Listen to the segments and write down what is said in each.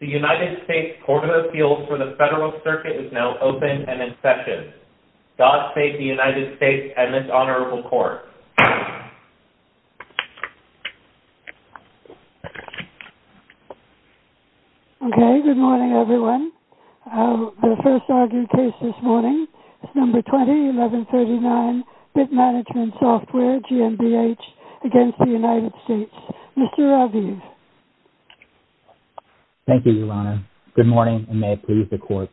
The United States Court of Appeals for the Federal Circuit is now open and in session. God save the United States and this Honorable Court. Okay, good morning everyone. The first argued case this morning is number 20, 1139, Bitmanagement Software GmbH against the United States. Mr. Raviv. Thank you, Your Honor. Good morning and may it please the Court.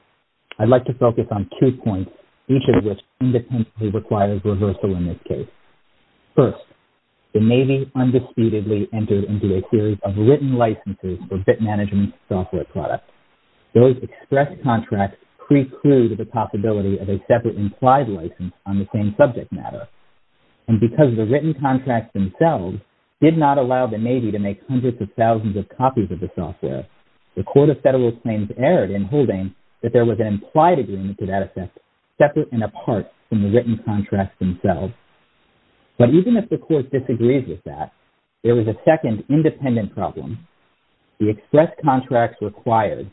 I'd like to focus on two points, each of which independently requires reversal in this case. First, the Navy undisputedly entered into a series of written licenses for Bitmanagement Software products. Those express contracts preclude the possibility of a separate implied license on the same subject matter. And because the written contracts themselves did not allow the Navy to make hundreds of thousands of copies of the software, the Court of Federal Claims erred in holding that there was an implied agreement to that effect separate and apart from the written contracts themselves. But even if the Court disagrees with that, there was a second independent problem. The express contracts required,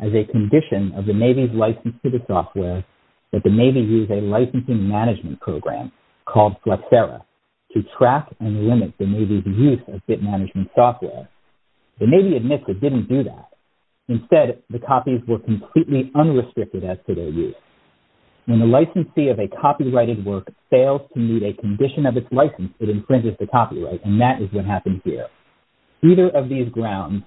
as a condition of the Navy's license to the software, that the Navy use a licensing management program called Flexera to track and limit the Navy's use of Bitmanagement Software. The Navy admits it didn't do that. Instead, the copies were completely unrestricted as to their use. When the licensee of a copyrighted work fails to meet a condition of its license, it infringes the copyright. And that is what happened here. Either of these grounds,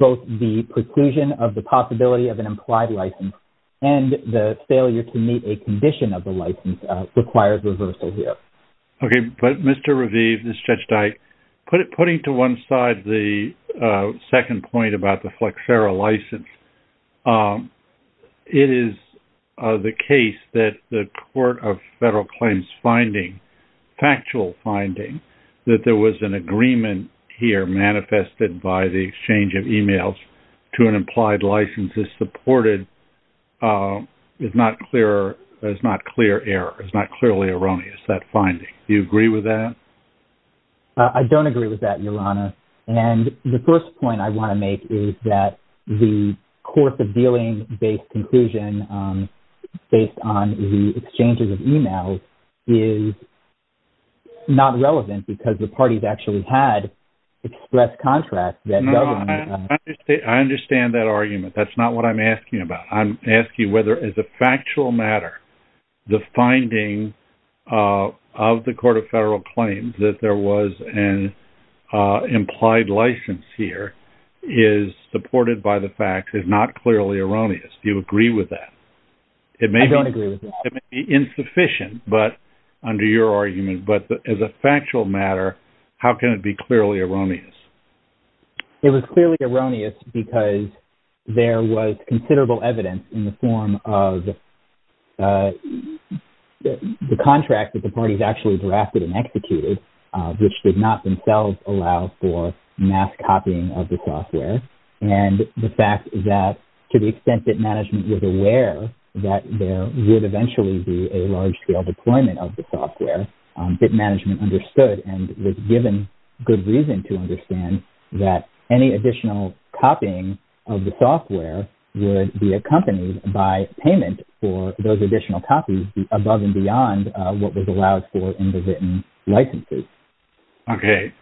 both the preclusion of the possibility of an implied license and the failure to meet a condition of the license, requires reversal here. Okay, but Mr. Raviv, this is Judge Dyke. Putting to one side the second point about the Flexera license, it is the case that the Court of Federal Claims finding, factual finding, that there was an agreement here manifested by the exchange of emails to an implied license is supported, is not clear error, is not clearly erroneous, that finding. Do you agree with that? I don't agree with that, Your Honor. And the first point I want to make is that the course of dealing-based conclusion based on the exchanges of emails is not relevant because the parties actually had expressed contracts that government had. I understand that argument. That's not what I'm asking about. I'm asking whether, as a factual matter, the finding of the Court of Federal Claims that there was an implied license here is supported by the facts, is not clearly erroneous. Do you agree with that? I don't agree with that. It may be insufficient under your argument, but as a factual matter, how can it be clearly erroneous? It was clearly erroneous because there was considerable evidence in the form of the contract that the parties actually drafted and executed, which did not themselves allow for mass copying of the software, and the fact that to the extent that management was aware that there would eventually be a large-scale deployment of the software, that management understood and was given good reason to understand that any additional copying of the software would be accompanied by payment for those additional copies above and beyond what was allowed for in the written licenses. Okay.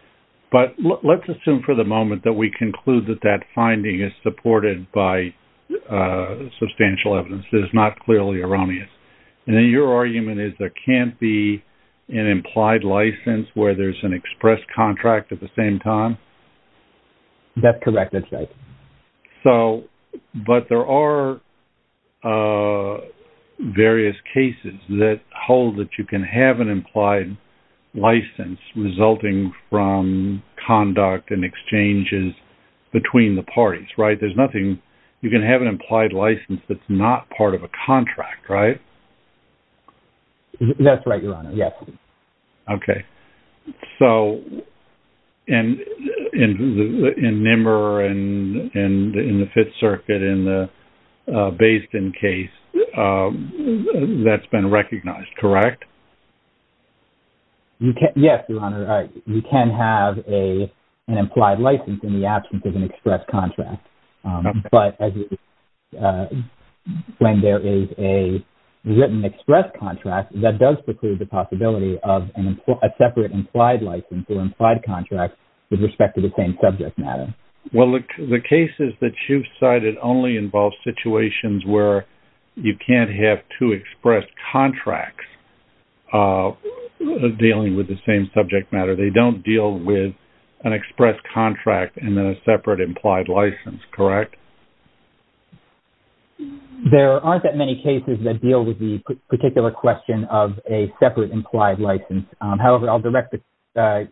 But let's assume for the moment that we conclude that that finding is supported by substantial evidence. It is not clearly erroneous. And then your argument is there can't be an implied license where there's an expressed contract at the same time? That's correct. That's right. But there are various cases that hold that you can have an implied license resulting from conduct and exchanges between the parties, right? You can have an implied license that's not part of a contract, right? That's right, Your Honor. Yes. Okay. So in NMR and in the Fifth Circuit and based in case, that's been recognized, correct? Yes, Your Honor. You can have an implied license in the absence of an expressed contract. But when there is a written expressed contract, that does preclude the possibility of a separate implied license or implied contract with respect to the same subject matter. Well, the cases that you've cited only involve situations where you can't have two expressed contracts dealing with the same subject matter. They don't deal with an expressed contract and then a separate implied license, correct? There aren't that many cases that deal with the particular question of a separate implied license. However, I'll direct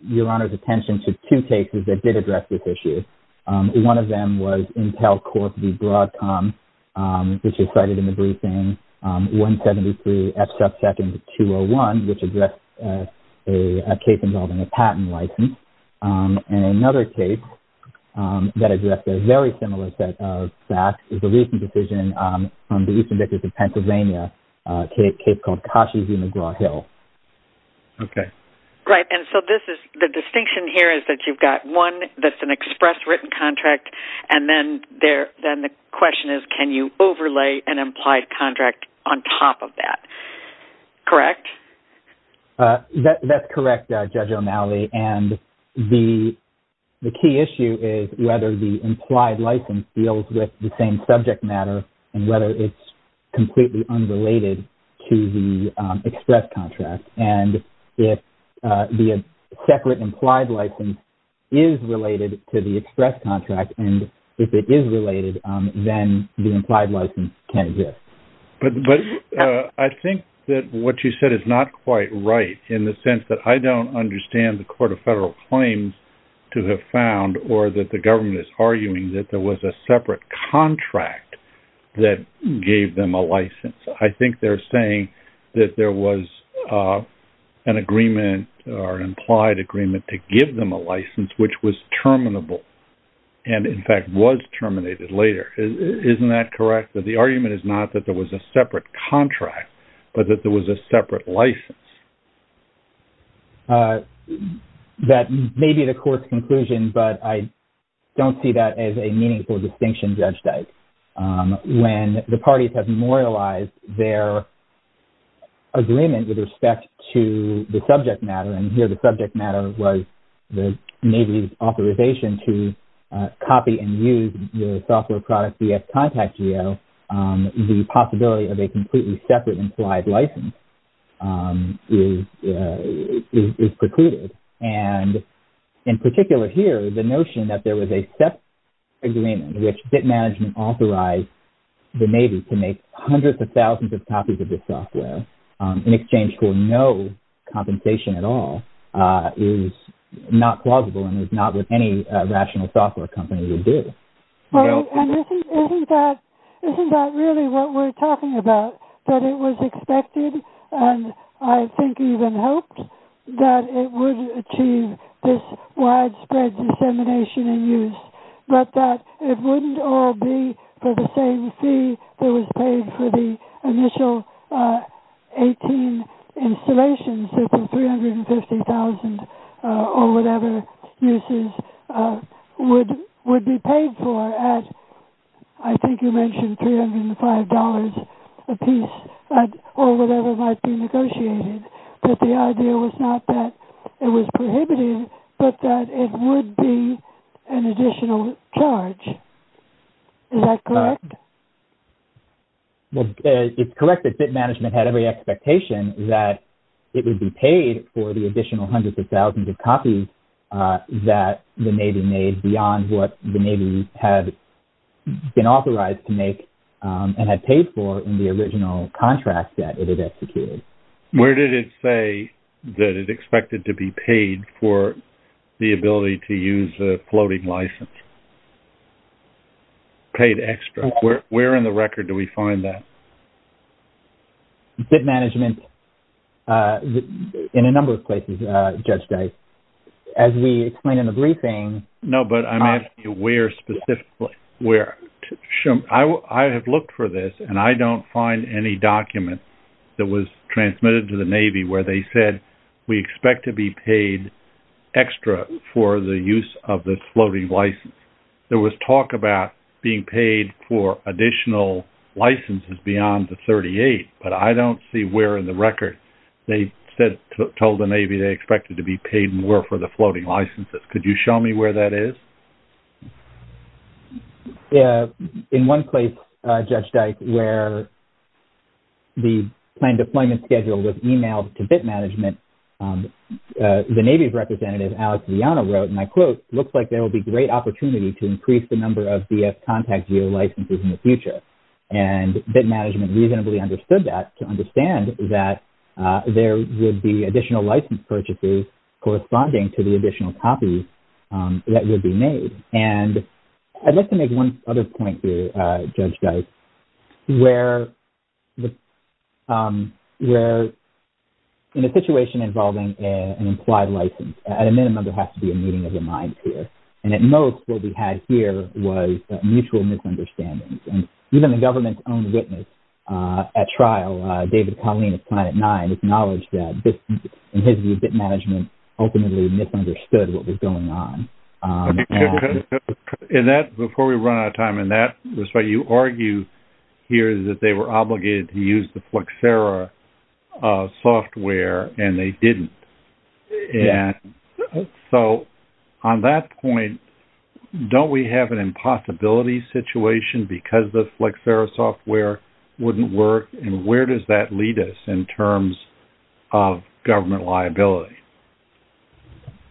Your Honor's attention to two cases that did address this issue. One of them was Intel Corp v. Broadcom, which you cited in the briefing, 173 F-subsecond 201, which addressed a case involving a patent license. And another case that addressed a very similar set of facts is a recent decision from the Eastern District of Pennsylvania, a case called Cashi v. McGraw-Hill. Okay. Right, and so the distinction here is that you've got one that's an expressed written contract, and then the question is can you overlay an implied contract on top of that, correct? That's correct, Judge O'Malley. And the key issue is whether the implied license deals with the same subject matter and whether it's completely unrelated to the expressed contract. And if the separate implied license is related to the expressed contract, and if it is related, then the implied license can exist. But I think that what you said is not quite right in the sense that I don't understand the Court of Federal Claims to have found or that the government is arguing that there was a separate contract that gave them a license. I think they're saying that there was an agreement or an implied agreement to give them a license, which was terminable and, in fact, was terminated later. Isn't that correct, that the argument is not that there was a separate contract, but that there was a separate license? That may be the Court's conclusion, but I don't see that as a meaningful distinction, Judge Dyke. When the parties have memorialized their agreement with respect to the subject matter, and here the subject matter was the Navy's authorization to copy and use the software product via Contact Geo, the possibility of a completely separate implied license is precluded. And, in particular here, the notion that there was a separate agreement, which BIT Management authorized the Navy to make hundreds of thousands of copies of this software in exchange for no compensation at all, is not plausible and is not what any rational software company would do. Isn't that really what we're talking about, that it was expected, and I think even hoped, that it would achieve this widespread dissemination and use, but that it wouldn't all be for the same fee that was paid for the initial 18 installations, that the $350,000 or whatever uses would be paid for at, I think you mentioned $305 apiece, or whatever might be negotiated, that the idea was not that it was prohibitive, but that it would be an additional charge. Is that correct? Well, it's correct that BIT Management had every expectation that it would be paid for the additional hundreds of thousands of copies that the Navy made beyond what the Navy had been authorized to make and had paid for in the original contract that it had executed. Where did it say that it expected to be paid for the ability to use a floating license? Paid extra. Where in the record do we find that? BIT Management, in a number of places, Judge Dice. As we explain in the briefing... No, but I'm asking you where specifically. I have looked for this, and I don't find any document that was transmitted to the Navy where they said, we expect to be paid extra for the use of this floating license. There was talk about being paid for additional licenses beyond the $38,000, but I don't see where in the record they told the Navy they expected to be paid more for the floating licenses. Could you show me where that is? In one place, Judge Dice, where the planned deployment schedule was emailed to BIT Management, the Navy's representative, Alex Viano, wrote, and I quote, looks like there will be great opportunity to increase the number of BF Contact Geo licenses in the future. And BIT Management reasonably understood that to understand that there would be additional license purchases corresponding to the additional copies that would be made. And I'd like to make one other point here, Judge Dice, where in a situation involving an implied license, at a minimum, there has to be a meeting of the mind here. And at most, what we had here was mutual misunderstandings. And even the government's own witness at trial, David Colleen of Planet Nine, acknowledged that BIT Management ultimately misunderstood what was going on. And that, before we run out of time in that respect, you argue here that they were obligated to use the Flexera software and they didn't. So on that point, don't we have an impossibility situation because the Flexera software wouldn't work? And where does that lead us in terms of government liability?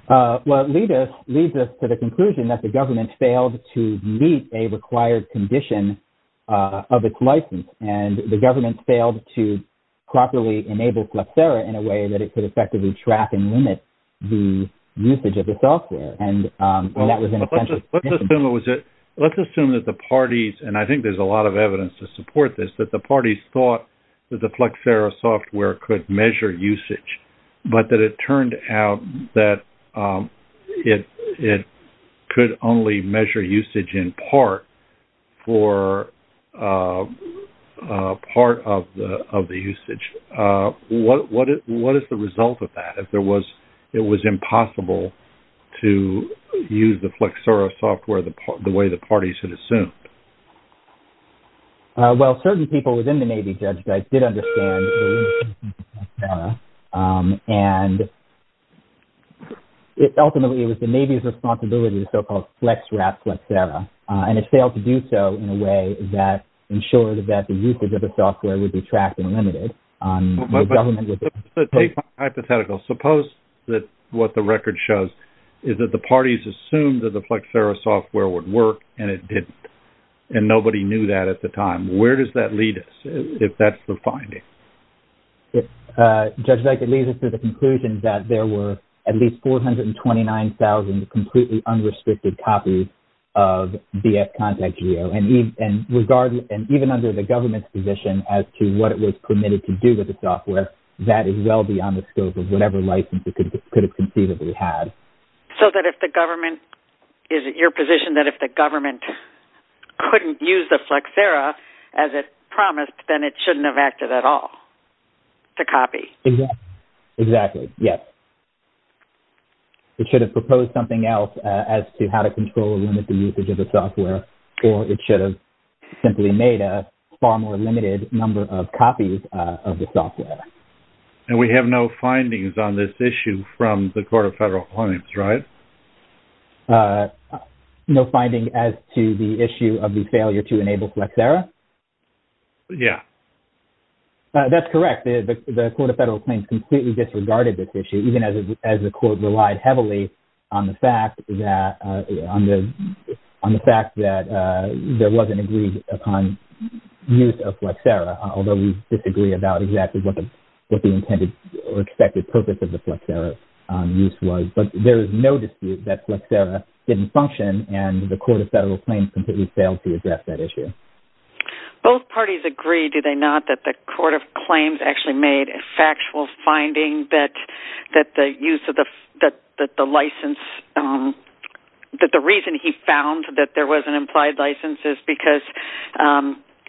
Well, it leads us to the conclusion that the government failed to meet a required condition of its license. And the government failed to properly enable Flexera in a way that it could effectively track and limit the usage of the software. And that was an essential condition. Let's assume that the parties, and I think there's a lot of evidence to support this, that the parties thought that the Flexera software could measure usage, but that it turned out that it could only measure usage in part for part of the usage. What is the result of that? If it was impossible to use the Flexera software the way the parties had assumed? Well, certain people within the Navy, Judge Dice, did understand the use of Flexera. And ultimately, it was the Navy's responsibility to so-called flex-wrap Flexera. And it failed to do so in a way that ensured that the usage of the software would be tracked and limited. Hypothetically, suppose that what the record shows is that the parties assumed that the Flexera software would work and it didn't. And nobody knew that at the time. Where does that lead us, if that's the finding? Judge Dice, it leads us to the conclusion that there were at least 429,000 completely unrestricted copies of DF Contact Geo. And even under the government's position as to what it was permitted to do with the software, that is well beyond the scope of whatever license it could have conceivably had. So that if the government, is it your position that if the government couldn't use the Flexera as it promised, then it shouldn't have acted at all to copy? Exactly. Yes. It should have proposed something else as to how to control and limit the usage of the software. Or it should have simply made a far more limited number of copies of the software. And we have no findings on this issue from the Court of Federal Claims, right? No finding as to the issue of the failure to enable Flexera? Yeah. That's correct. The Court of Federal Claims completely disregarded this issue, even as the court relied heavily on the fact that there wasn't agreed upon use of Flexera. Although we disagree about exactly what the intended or expected purpose of the Flexera use was. But there is no dispute that Flexera didn't function, and the Court of Federal Claims completely failed to address that issue. Both parties agree, do they not, that the Court of Claims actually made a factual finding that the use of the license, that the reason he found that there was an implied license is because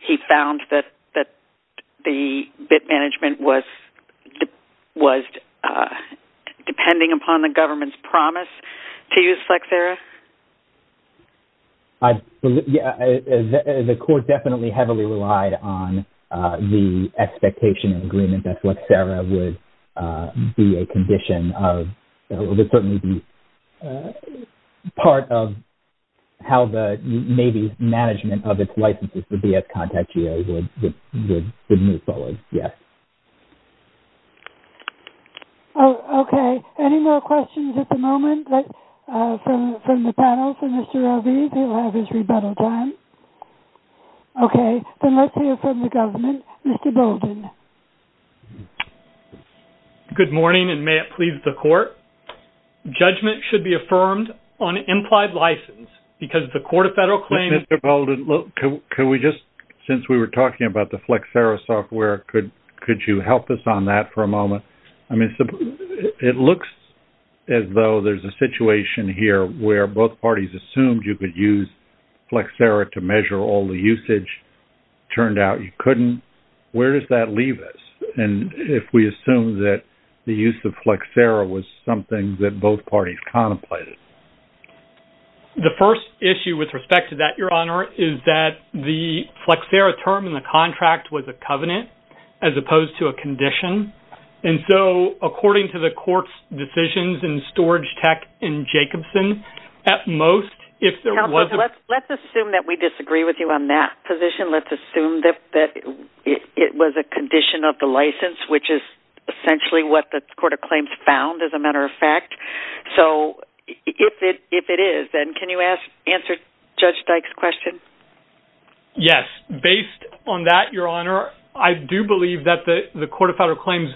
he found that the bit management was depending upon the government's promise to use Flexera? Yeah. The court definitely heavily relied on the expectation and agreement that Flexera would be a condition of, or would certainly be part of how the Navy's management of its licenses, the VF Contact GA, would move forward. Yes. Okay. Any more questions at the moment from the panel for Mr. Rovey? He'll have his rebuttal time. Okay. Then let's hear from the government. Mr. Bolden. Good morning, and may it please the Court. Judgment should be affirmed on implied license because the Court of Federal Claims... Mr. Bolden, can we just, since we were talking about the Flexera software, could you help us on that for a moment? I mean, it looks as though there's a situation here where both parties assumed you could use Flexera to measure all the usage. Turned out you couldn't. Where does that leave us? And if we assume that the use of Flexera was something that both parties contemplated? The first issue with respect to that, Your Honor, is that the Flexera term in the contract was a covenant as opposed to a condition. And so, according to the Court's decisions in Storage Tech and Jacobson, at most, if there was a... condition, let's assume that it was a condition of the license, which is essentially what the Court of Claims found, as a matter of fact. So, if it is, then can you answer Judge Dyke's question? Yes. Based on that, Your Honor, I do believe that the Court of Federal Claims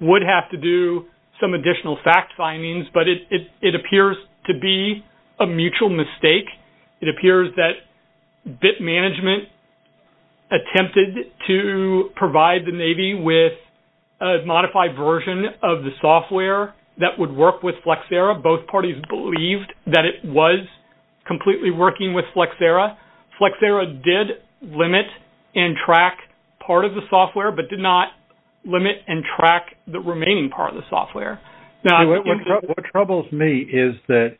would have to do some additional fact findings, but it appears to be a mutual mistake. It appears that BIT Management attempted to provide the Navy with a modified version of the software that would work with Flexera. Both parties believed that it was completely working with Flexera. Flexera did limit and track part of the software, but did not limit and track the remaining part of the software. What troubles me is that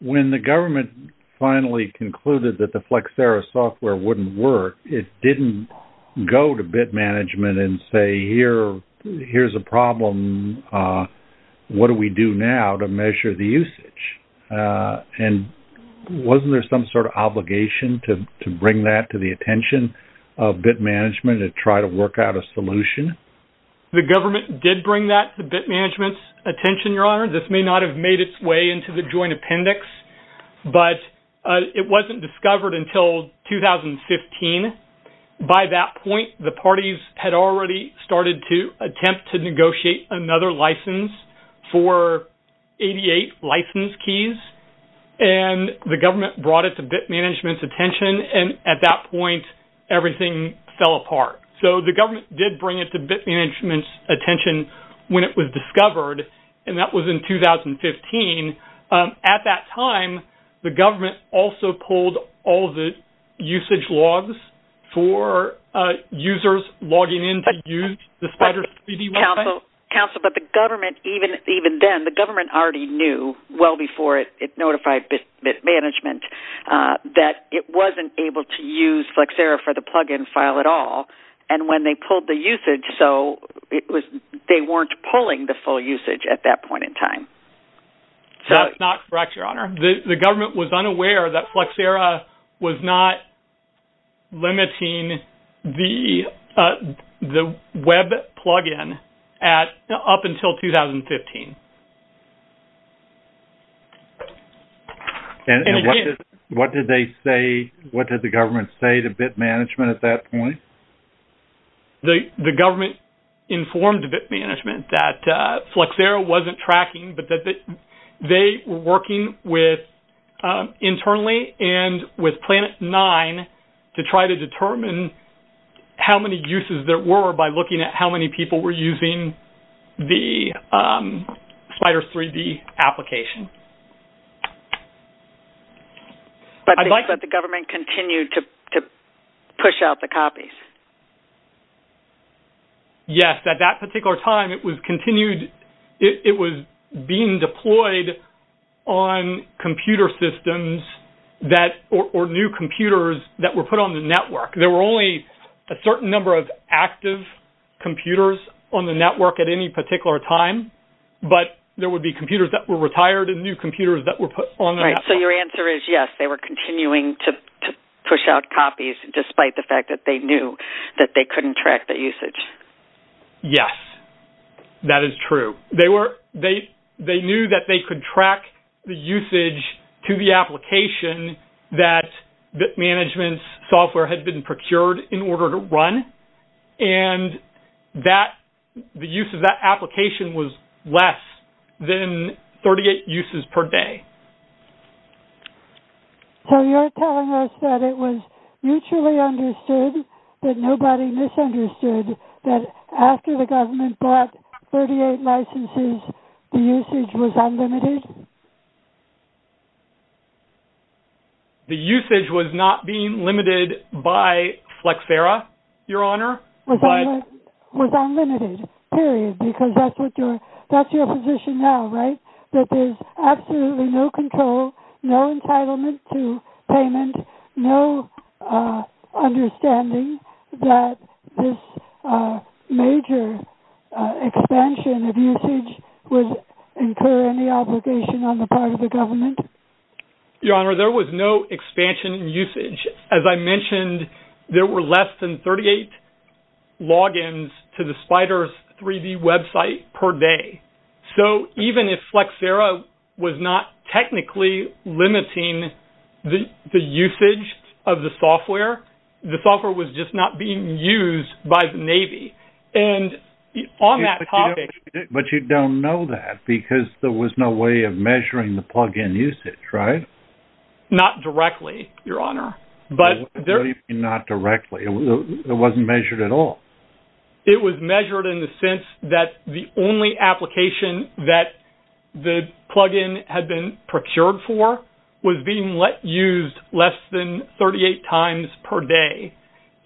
when the government finally concluded that the Flexera software wouldn't work, it didn't go to BIT Management and say, here's a problem, what do we do now to measure the usage? And wasn't there some sort of obligation to bring that to the attention of BIT Management and try to work out a solution? The government did bring that to BIT Management's attention, Your Honor. This may not have made its way into the joint appendix, but it wasn't discovered until 2015. By that point, the parties had already started to attempt to negotiate another license for 88 license keys, and the government brought it to BIT Management's attention, and at that point, everything fell apart. So the government did bring it to BIT Management's attention when it was discovered, and that was in 2015. At that time, the government also pulled all the usage logs for users logging in to use the SpyderCBDI. Counsel, but the government, even then, the government already knew well before it notified BIT Management that it wasn't able to use Flexera for the plug-in file at all, and when they pulled the usage, so they weren't pulling the full usage at that point in time. That's not correct, Your Honor. The government was unaware that Flexera was not limiting the web plug-in up until 2015. And what did they say? What did the government say to BIT Management at that point? The government informed BIT Management that Flexera wasn't tracking, but that they were working internally and with Planet Nine to try to determine how many uses there were by looking at how many people were using the SpyderCBDI application. But the government continued to push out the copies? Yes. At that particular time, it was being deployed on computer systems or new computers that were put on the network. There were only a certain number of active computers on the network at any particular time, but there would be computers that were retired and new computers that were put on the network. Right, so your answer is yes, they were continuing to push out copies, despite the fact that they knew that they couldn't track the usage. Yes, that is true. They knew that they could track the usage to the application that BIT Management's software had been procured in order to run, and the use of that application was less than 38 uses per day. So you're telling us that it was mutually understood, that nobody misunderstood, that after the government bought 38 licenses, the usage was unlimited? The usage was not being limited by Flexera, Your Honor. It was unlimited, period, because that's your position now, right? That there's absolutely no control, no entitlement to payment, and no understanding that this major expansion of usage would incur any obligation on the part of the government? Your Honor, there was no expansion in usage. As I mentioned, there were less than 38 logins to the Spyder's 3D website per day. So even if Flexera was not technically limiting the usage of the software, the software was just not being used by the Navy. But you don't know that, because there was no way of measuring the plug-in usage, right? Not directly, Your Honor. What do you mean, not directly? It wasn't measured at all? It was measured in the sense that the only application that the plug-in had been procured for was being used less than 38 times per day.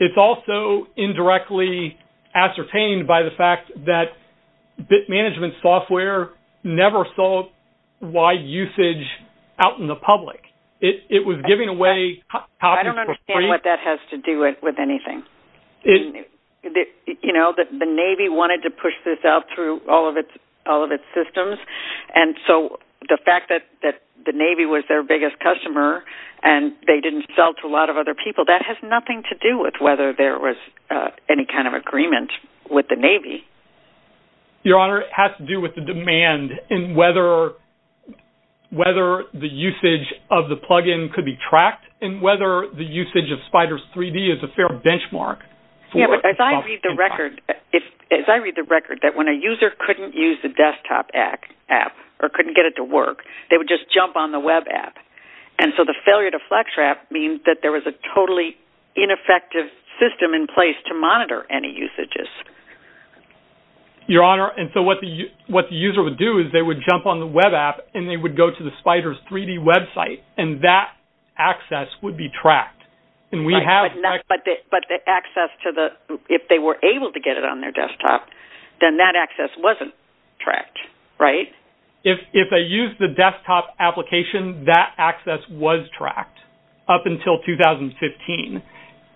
It's also indirectly ascertained by the fact that bit management software never saw wide usage out in the public. It was giving away copies for free. I don't understand what that has to do with anything. You know, the Navy wanted to push this out through all of its systems, and so the fact that the Navy was their biggest customer and they didn't sell to a lot of other people, that has nothing to do with whether there was any kind of agreement with the Navy. Your Honor, it has to do with the demand in whether the usage of the plug-in could be tracked and whether the usage of Spyder's 3D is a fair benchmark. Yeah, but as I read the record, that when a user couldn't use the desktop app or couldn't get it to work, they would just jump on the web app. And so the failure to flex trap means that there was a totally ineffective system in place to monitor any usages. Your Honor, and so what the user would do is they would jump on the web app and they would go to the Spyder's 3D website, and that access would be tracked. But the access to the – if they were able to get it on their desktop, then that access wasn't tracked, right? If they used the desktop application, that access was tracked up until 2015.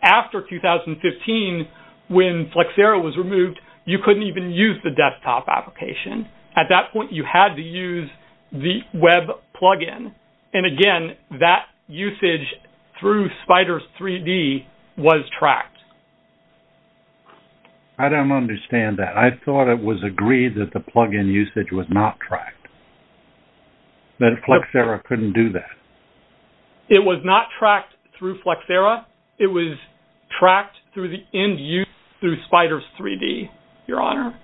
After 2015, when Flexera was removed, you couldn't even use the desktop application. At that point, you had to use the web plug-in. And again, that usage through Spyder's 3D was tracked. I don't understand that. I thought it was agreed that the plug-in usage was not tracked, that Flexera couldn't do that. It was not tracked through Flexera. It was tracked through the end use through Spyder's 3D, Your Honor.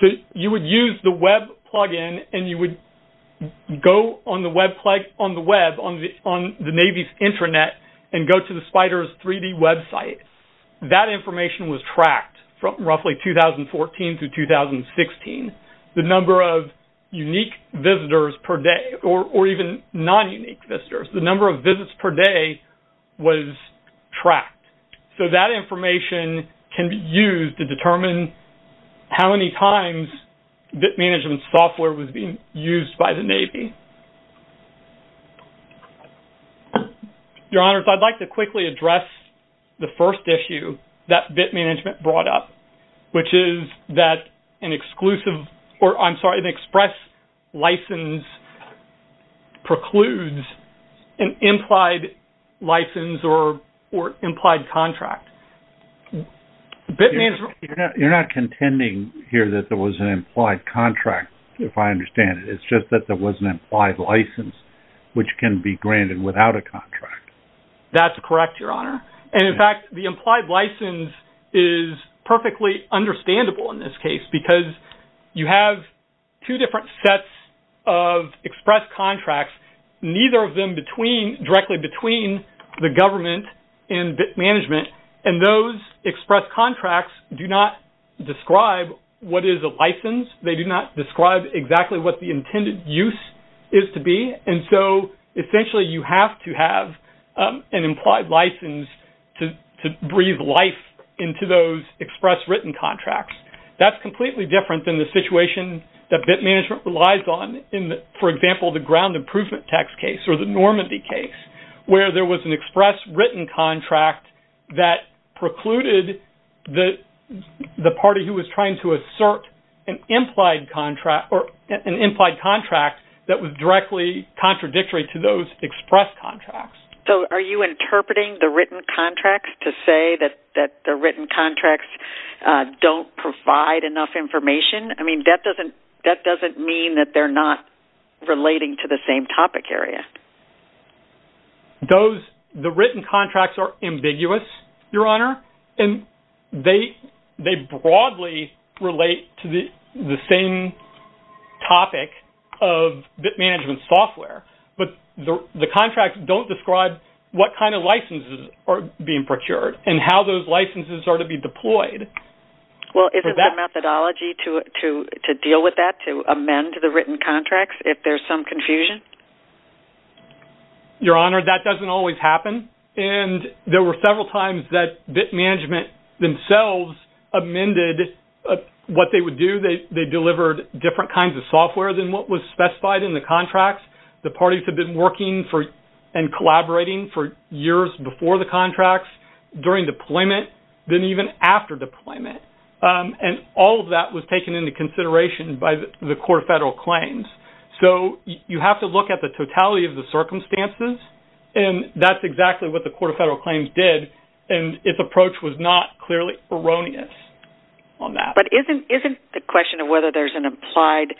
So you would use the web plug-in and you would go on the web on the Navy's intranet and go to the Spyder's 3D website. That information was tracked from roughly 2014 to 2016. The number of unique visitors per day or even non-unique visitors, the number of visits per day was tracked. So that information can be used to determine how many times bit management software was being used by the Navy. Your Honors, I'd like to quickly address the first issue that bit management brought up, which is that an exclusive or, I'm sorry, an express license precludes an implied license or implied contract. You're not contending here that there was an implied contract, if I understand it. It's just that there was an implied license, which can be granted without a contract. That's correct, Your Honor. And in fact, the implied license is perfectly understandable in this case because you have two different sets of express contracts. Neither of them directly between the government and bit management. And those express contracts do not describe what is a license. They do not describe exactly what the intended use is to be. And so essentially you have to have an implied license to breathe life into those express written contracts. That's completely different than the situation that bit management relies on. For example, the ground improvement tax case or the Normandy case, where there was an express written contract that precluded the party who was trying to assert an implied contract that was directly contradictory to those express contracts. So are you interpreting the written contracts to say that the written contracts don't provide enough information? I mean, that doesn't mean that they're not relating to the same topic area. The written contracts are ambiguous, Your Honor, and they broadly relate to the same topic of bit management software. But the contracts don't describe what kind of licenses are being procured and how those licenses are to be deployed. Well, is it the methodology to deal with that, to amend the written contracts if there's some confusion? Your Honor, that doesn't always happen. And there were several times that bit management themselves amended what they would do. They delivered different kinds of software than what was specified in the contracts. The parties had been working and collaborating for years before the contracts, during deployment, then even after deployment. And all of that was taken into consideration by the Court of Federal Claims. So you have to look at the totality of the circumstances, and that's exactly what the Court of Federal Claims did, and its approach was not clearly erroneous on that. But isn't the question of whether there's an implied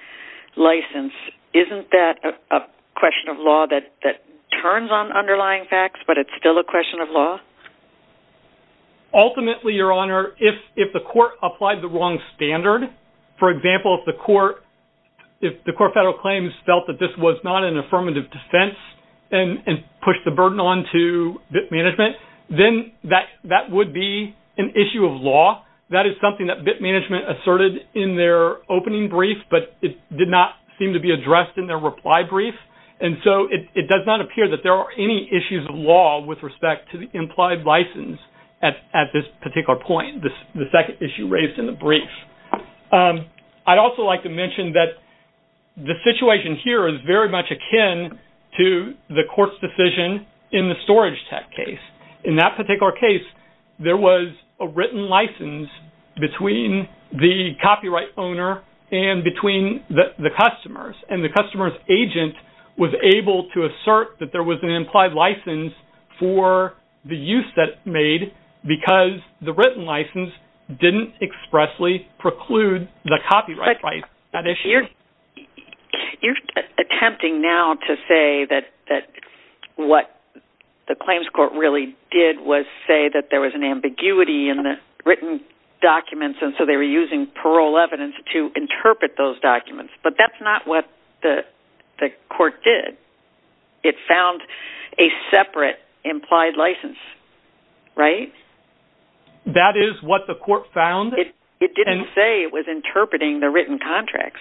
license, isn't that a question of law that turns on underlying facts, but it's still a question of law? Ultimately, Your Honor, if the court applied the wrong standard, for example, if the Court of Federal Claims felt that this was not an affirmative defense and pushed the burden on to bit management, then that would be an issue of law. That is something that bit management asserted in their opening brief, but it did not seem to be addressed in their reply brief. And so it does not appear that there are any issues of law with respect to the implied license at this particular point, the second issue raised in the brief. I'd also like to mention that the situation here is very much akin to the court's decision in the storage tech case. In that particular case, there was a written license between the copyright owner and between the customers, and the customer's agent was able to assert that there was an implied license for the use that it made because the written license didn't expressly preclude the copyright right. You're attempting now to say that what the claims court really did was say that there was an ambiguity in the written documents, and so they were using parole evidence to interpret those documents, but that's not what the court did. It found a separate implied license, right? That is what the court found? It didn't say it was interpreting the written contracts.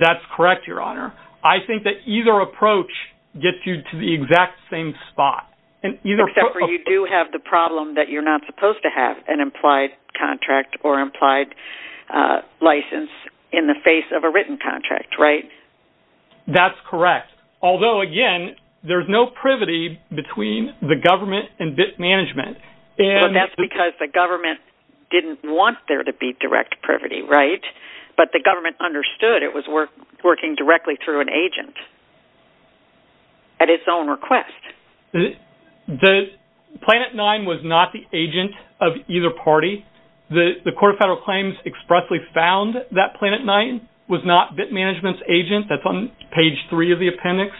That's correct, Your Honor. I think that either approach gets you to the exact same spot. Except for you do have the problem that you're not supposed to have an implied contract or implied license in the face of a written contract, right? That's correct. Although, again, there's no privity between the government and BIT management. That's because the government didn't want there to be direct privity, right? But the government understood it was working directly through an agent at its own request. Planet Nine was not the agent of either party. The Court of Federal Claims expressly found that Planet Nine was not BIT management's agent. That's on page three of the appendix,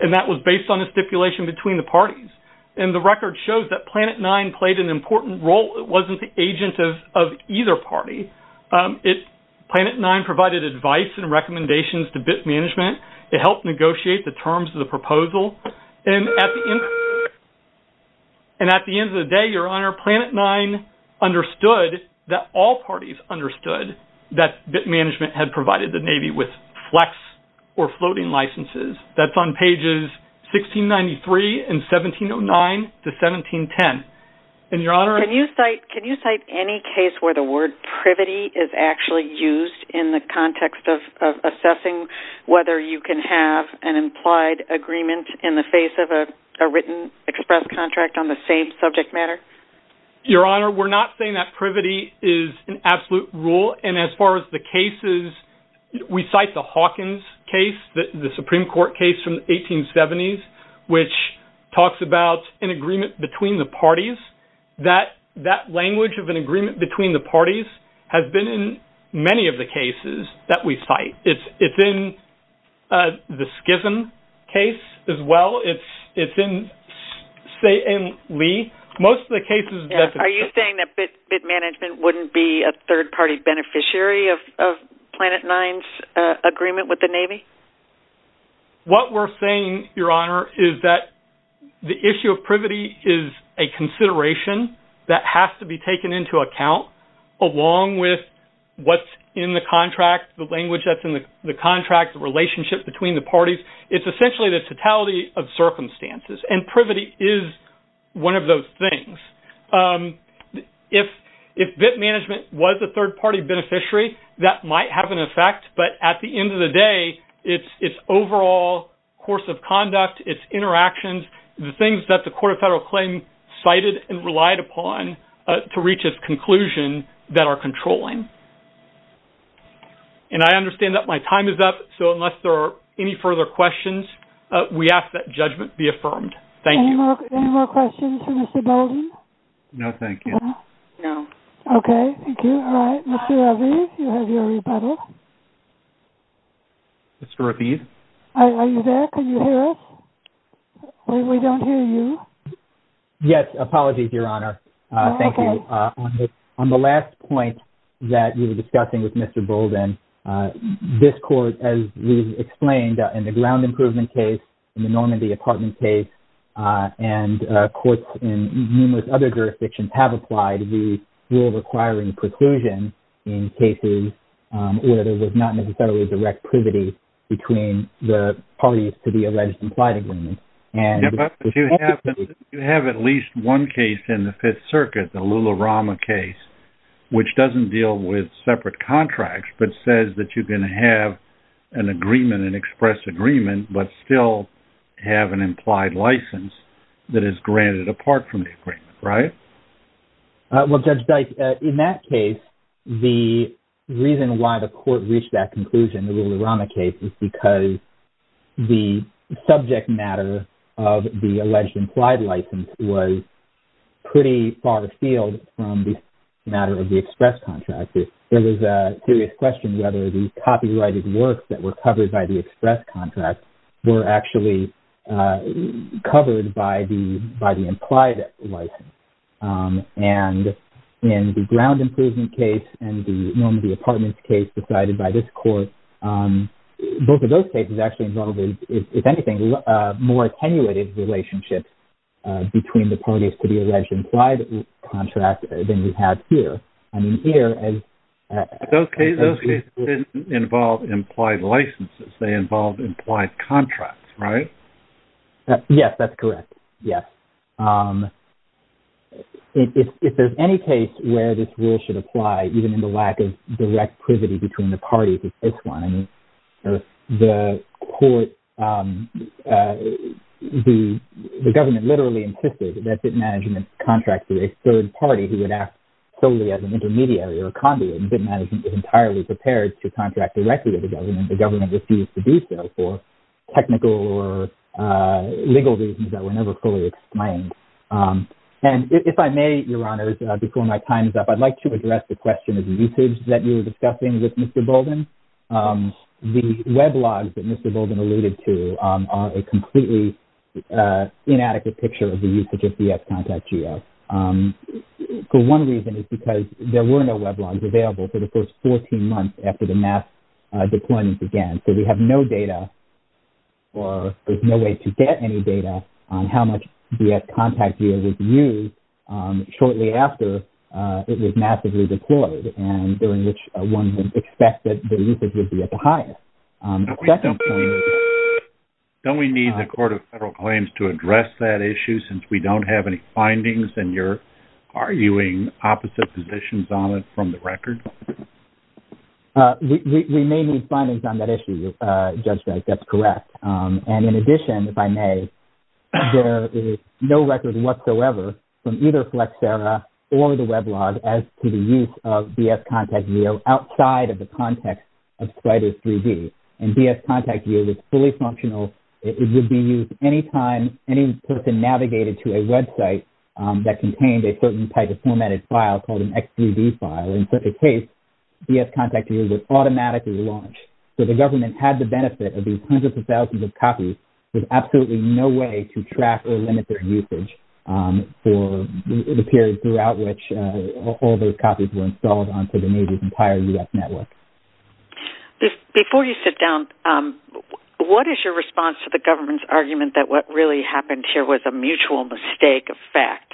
and that was based on a stipulation between the parties, and the record shows that Planet Nine played an important role. It wasn't the agent of either party. Planet Nine provided advice and recommendations to BIT management. It helped negotiate the terms of the proposal. And at the end of the day, Your Honor, Planet Nine understood that all parties understood that BIT management had provided the Navy with flex or floating licenses. That's on pages 1693 and 1709 to 1710. Can you cite any case where the word privity is actually used in the context of assessing whether you can have an implied agreement in the face of a written express contract on the same subject matter? Your Honor, we're not saying that privity is an absolute rule, and as far as the cases, we cite the Hawkins case, the Supreme Court case from the 1870s, which talks about an agreement between the parties. That language of an agreement between the parties has been in many of the cases that we cite. It's in the Skiffen case as well. It's in Lee. Are you saying that BIT management wouldn't be a third-party beneficiary of Planet Nine's agreement with the Navy? What we're saying, Your Honor, is that the issue of privity is a consideration that has to be taken into account, along with what's in the contract, the language that's in the contract, the relationship between the parties. It's essentially the totality of circumstances, and privity is one of those things. If BIT management was a third-party beneficiary, that might have an effect, but at the end of the day, it's overall course of conduct, it's interactions, the things that the Court of Federal Claims cited and relied upon to reach its conclusion that are controlling. I understand that my time is up, so unless there are any further questions, we ask that judgment be affirmed. Thank you. Any more questions for Mr. Bolden? No, thank you. No. Okay, thank you. All right, Mr. Aviv, you have your rebuttal. Mr. Aviv? Are you there? Can you hear us? We don't hear you. Yes, apologies, Your Honor. Thank you. On the last point that we were discussing with Mr. Bolden, this Court, as we've explained, in the ground improvement case, in the Normandy apartment case, and courts in numerous other jurisdictions have applied the rule requiring preclusion in cases where there was not necessarily direct privity between the parties to the alleged implied agreement. But you have at least one case in the Fifth Circuit, the Lularama case, which doesn't deal with separate contracts, but says that you can have an agreement, an express agreement, but still have an implied license that is granted apart from the agreement, right? Well, Judge Dike, in that case, the reason why the Court reached that conclusion, the Lularama case, is because the subject matter of the alleged implied license was pretty far afield from the matter of the express contract. There was a serious question whether the copyrighted works that were covered by the express contract were actually covered by the implied license. And in the ground improvement case and the Normandy apartment case decided by this Court, both of those cases actually involved, if anything, more attenuated relationships between the parties to the alleged implied contract than we have here. I mean, here... Those cases didn't involve implied licenses. They involved implied contracts, right? Yes, that's correct. Yes. If there's any case where this rule should apply, even in the lack of direct privity between the parties, it's this one. I mean, the Court... The government literally insisted that bit management contracts with a third party who would act solely as an intermediary or a conduit. Bit management is entirely prepared to contract directly with the government. The government refused to do so for technical or legal reasons that were never fully explained. And if I may, Your Honours, before my time is up, I'd like to address the question of usage that you were discussing with Mr Bolden. The weblogs that Mr Bolden alluded to are a completely inadequate picture of the usage of the ex-contract geo. For one reason, it's because there were no weblogs available for the first 14 months after the mass deployment began. So we have no data, or there's no way to get any data, on how much the ex-contract geo was used shortly after it was massively deployed and during which one would expect that the usage would be at the highest. The second point... Don't we need the Court of Federal Claims to address that issue since we don't have any findings and you're arguing opposite positions on it from the record? We may need findings on that issue, Judge Drake. That's correct. And in addition, if I may, there is no record whatsoever from either Flexera or the weblog as to the use of the ex-contract geo outside of the context of Spriter 3D. And ex-contract geo is fully functional. It would be used anytime any person navigated to a website that contained a certain type of formatted file called an XGB file. In such a case, ex-contract geo would automatically launch. So the government had the benefit of these hundreds of thousands of copies with absolutely no way to track or limit their usage for the period throughout which all those copies were installed onto the Navy's entire U.S. network. what is your response to the government's argument that what really happened here was a mutual mistake of fact?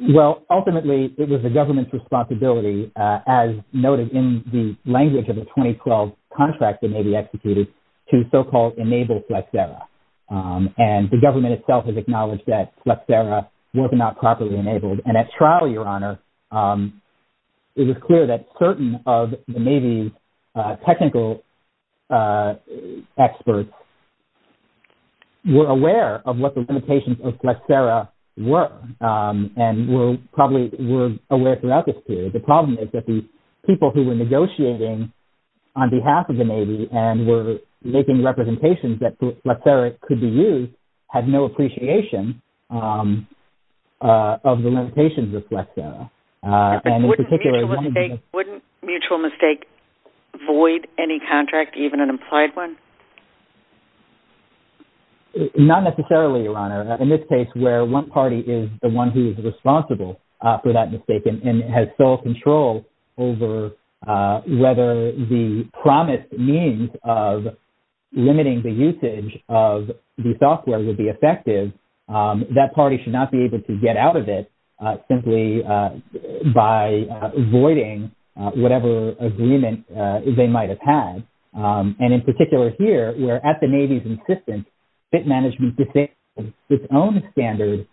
Well, ultimately, it was the government's responsibility, as noted in the language of the 2012 contract that Navy executed, to so-called enable Flexera. And the government itself has acknowledged that Flexera was not properly enabled. And at trial, Your Honor, it was clear that certain of the Navy's technical experts were aware of what the limitations of Flexera were and probably were aware throughout this period. The problem is that the people who were negotiating on behalf of the Navy and were making representations that Flexera could be used had no appreciation of the limitations of Flexera. Wouldn't mutual mistake void any contract, even an implied one? Not necessarily, Your Honor. In this case, where one party is the one who is responsible for that mistake and has full control over whether the promised means of limiting the usage of the software would be effective, that party should not be able to get out of it simply by voiding whatever agreement they might have had. And in particular here, where at the Navy's insistence, it managed to take its own standard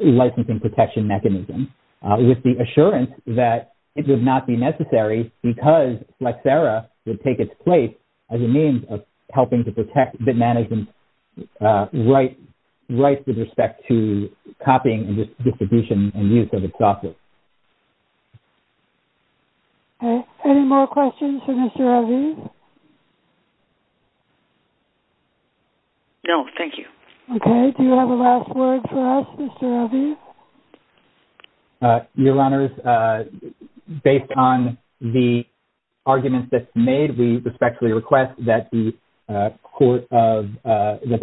licensing protection mechanism with the assurance that it would not be necessary because Flexera would take its place as a means of helping to protect the management rights with respect to copying and distribution and use of its software. Any more questions for Mr. Aviv? No, thank you. Okay, do you have a last word for us, Mr. Aviv? Your Honors, based on the arguments that's made, we respectfully request that the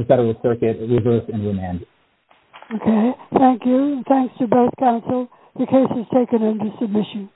Federal Circuit reverse and remand. Okay, thank you. Thanks to both counsel. The case is taken into submission.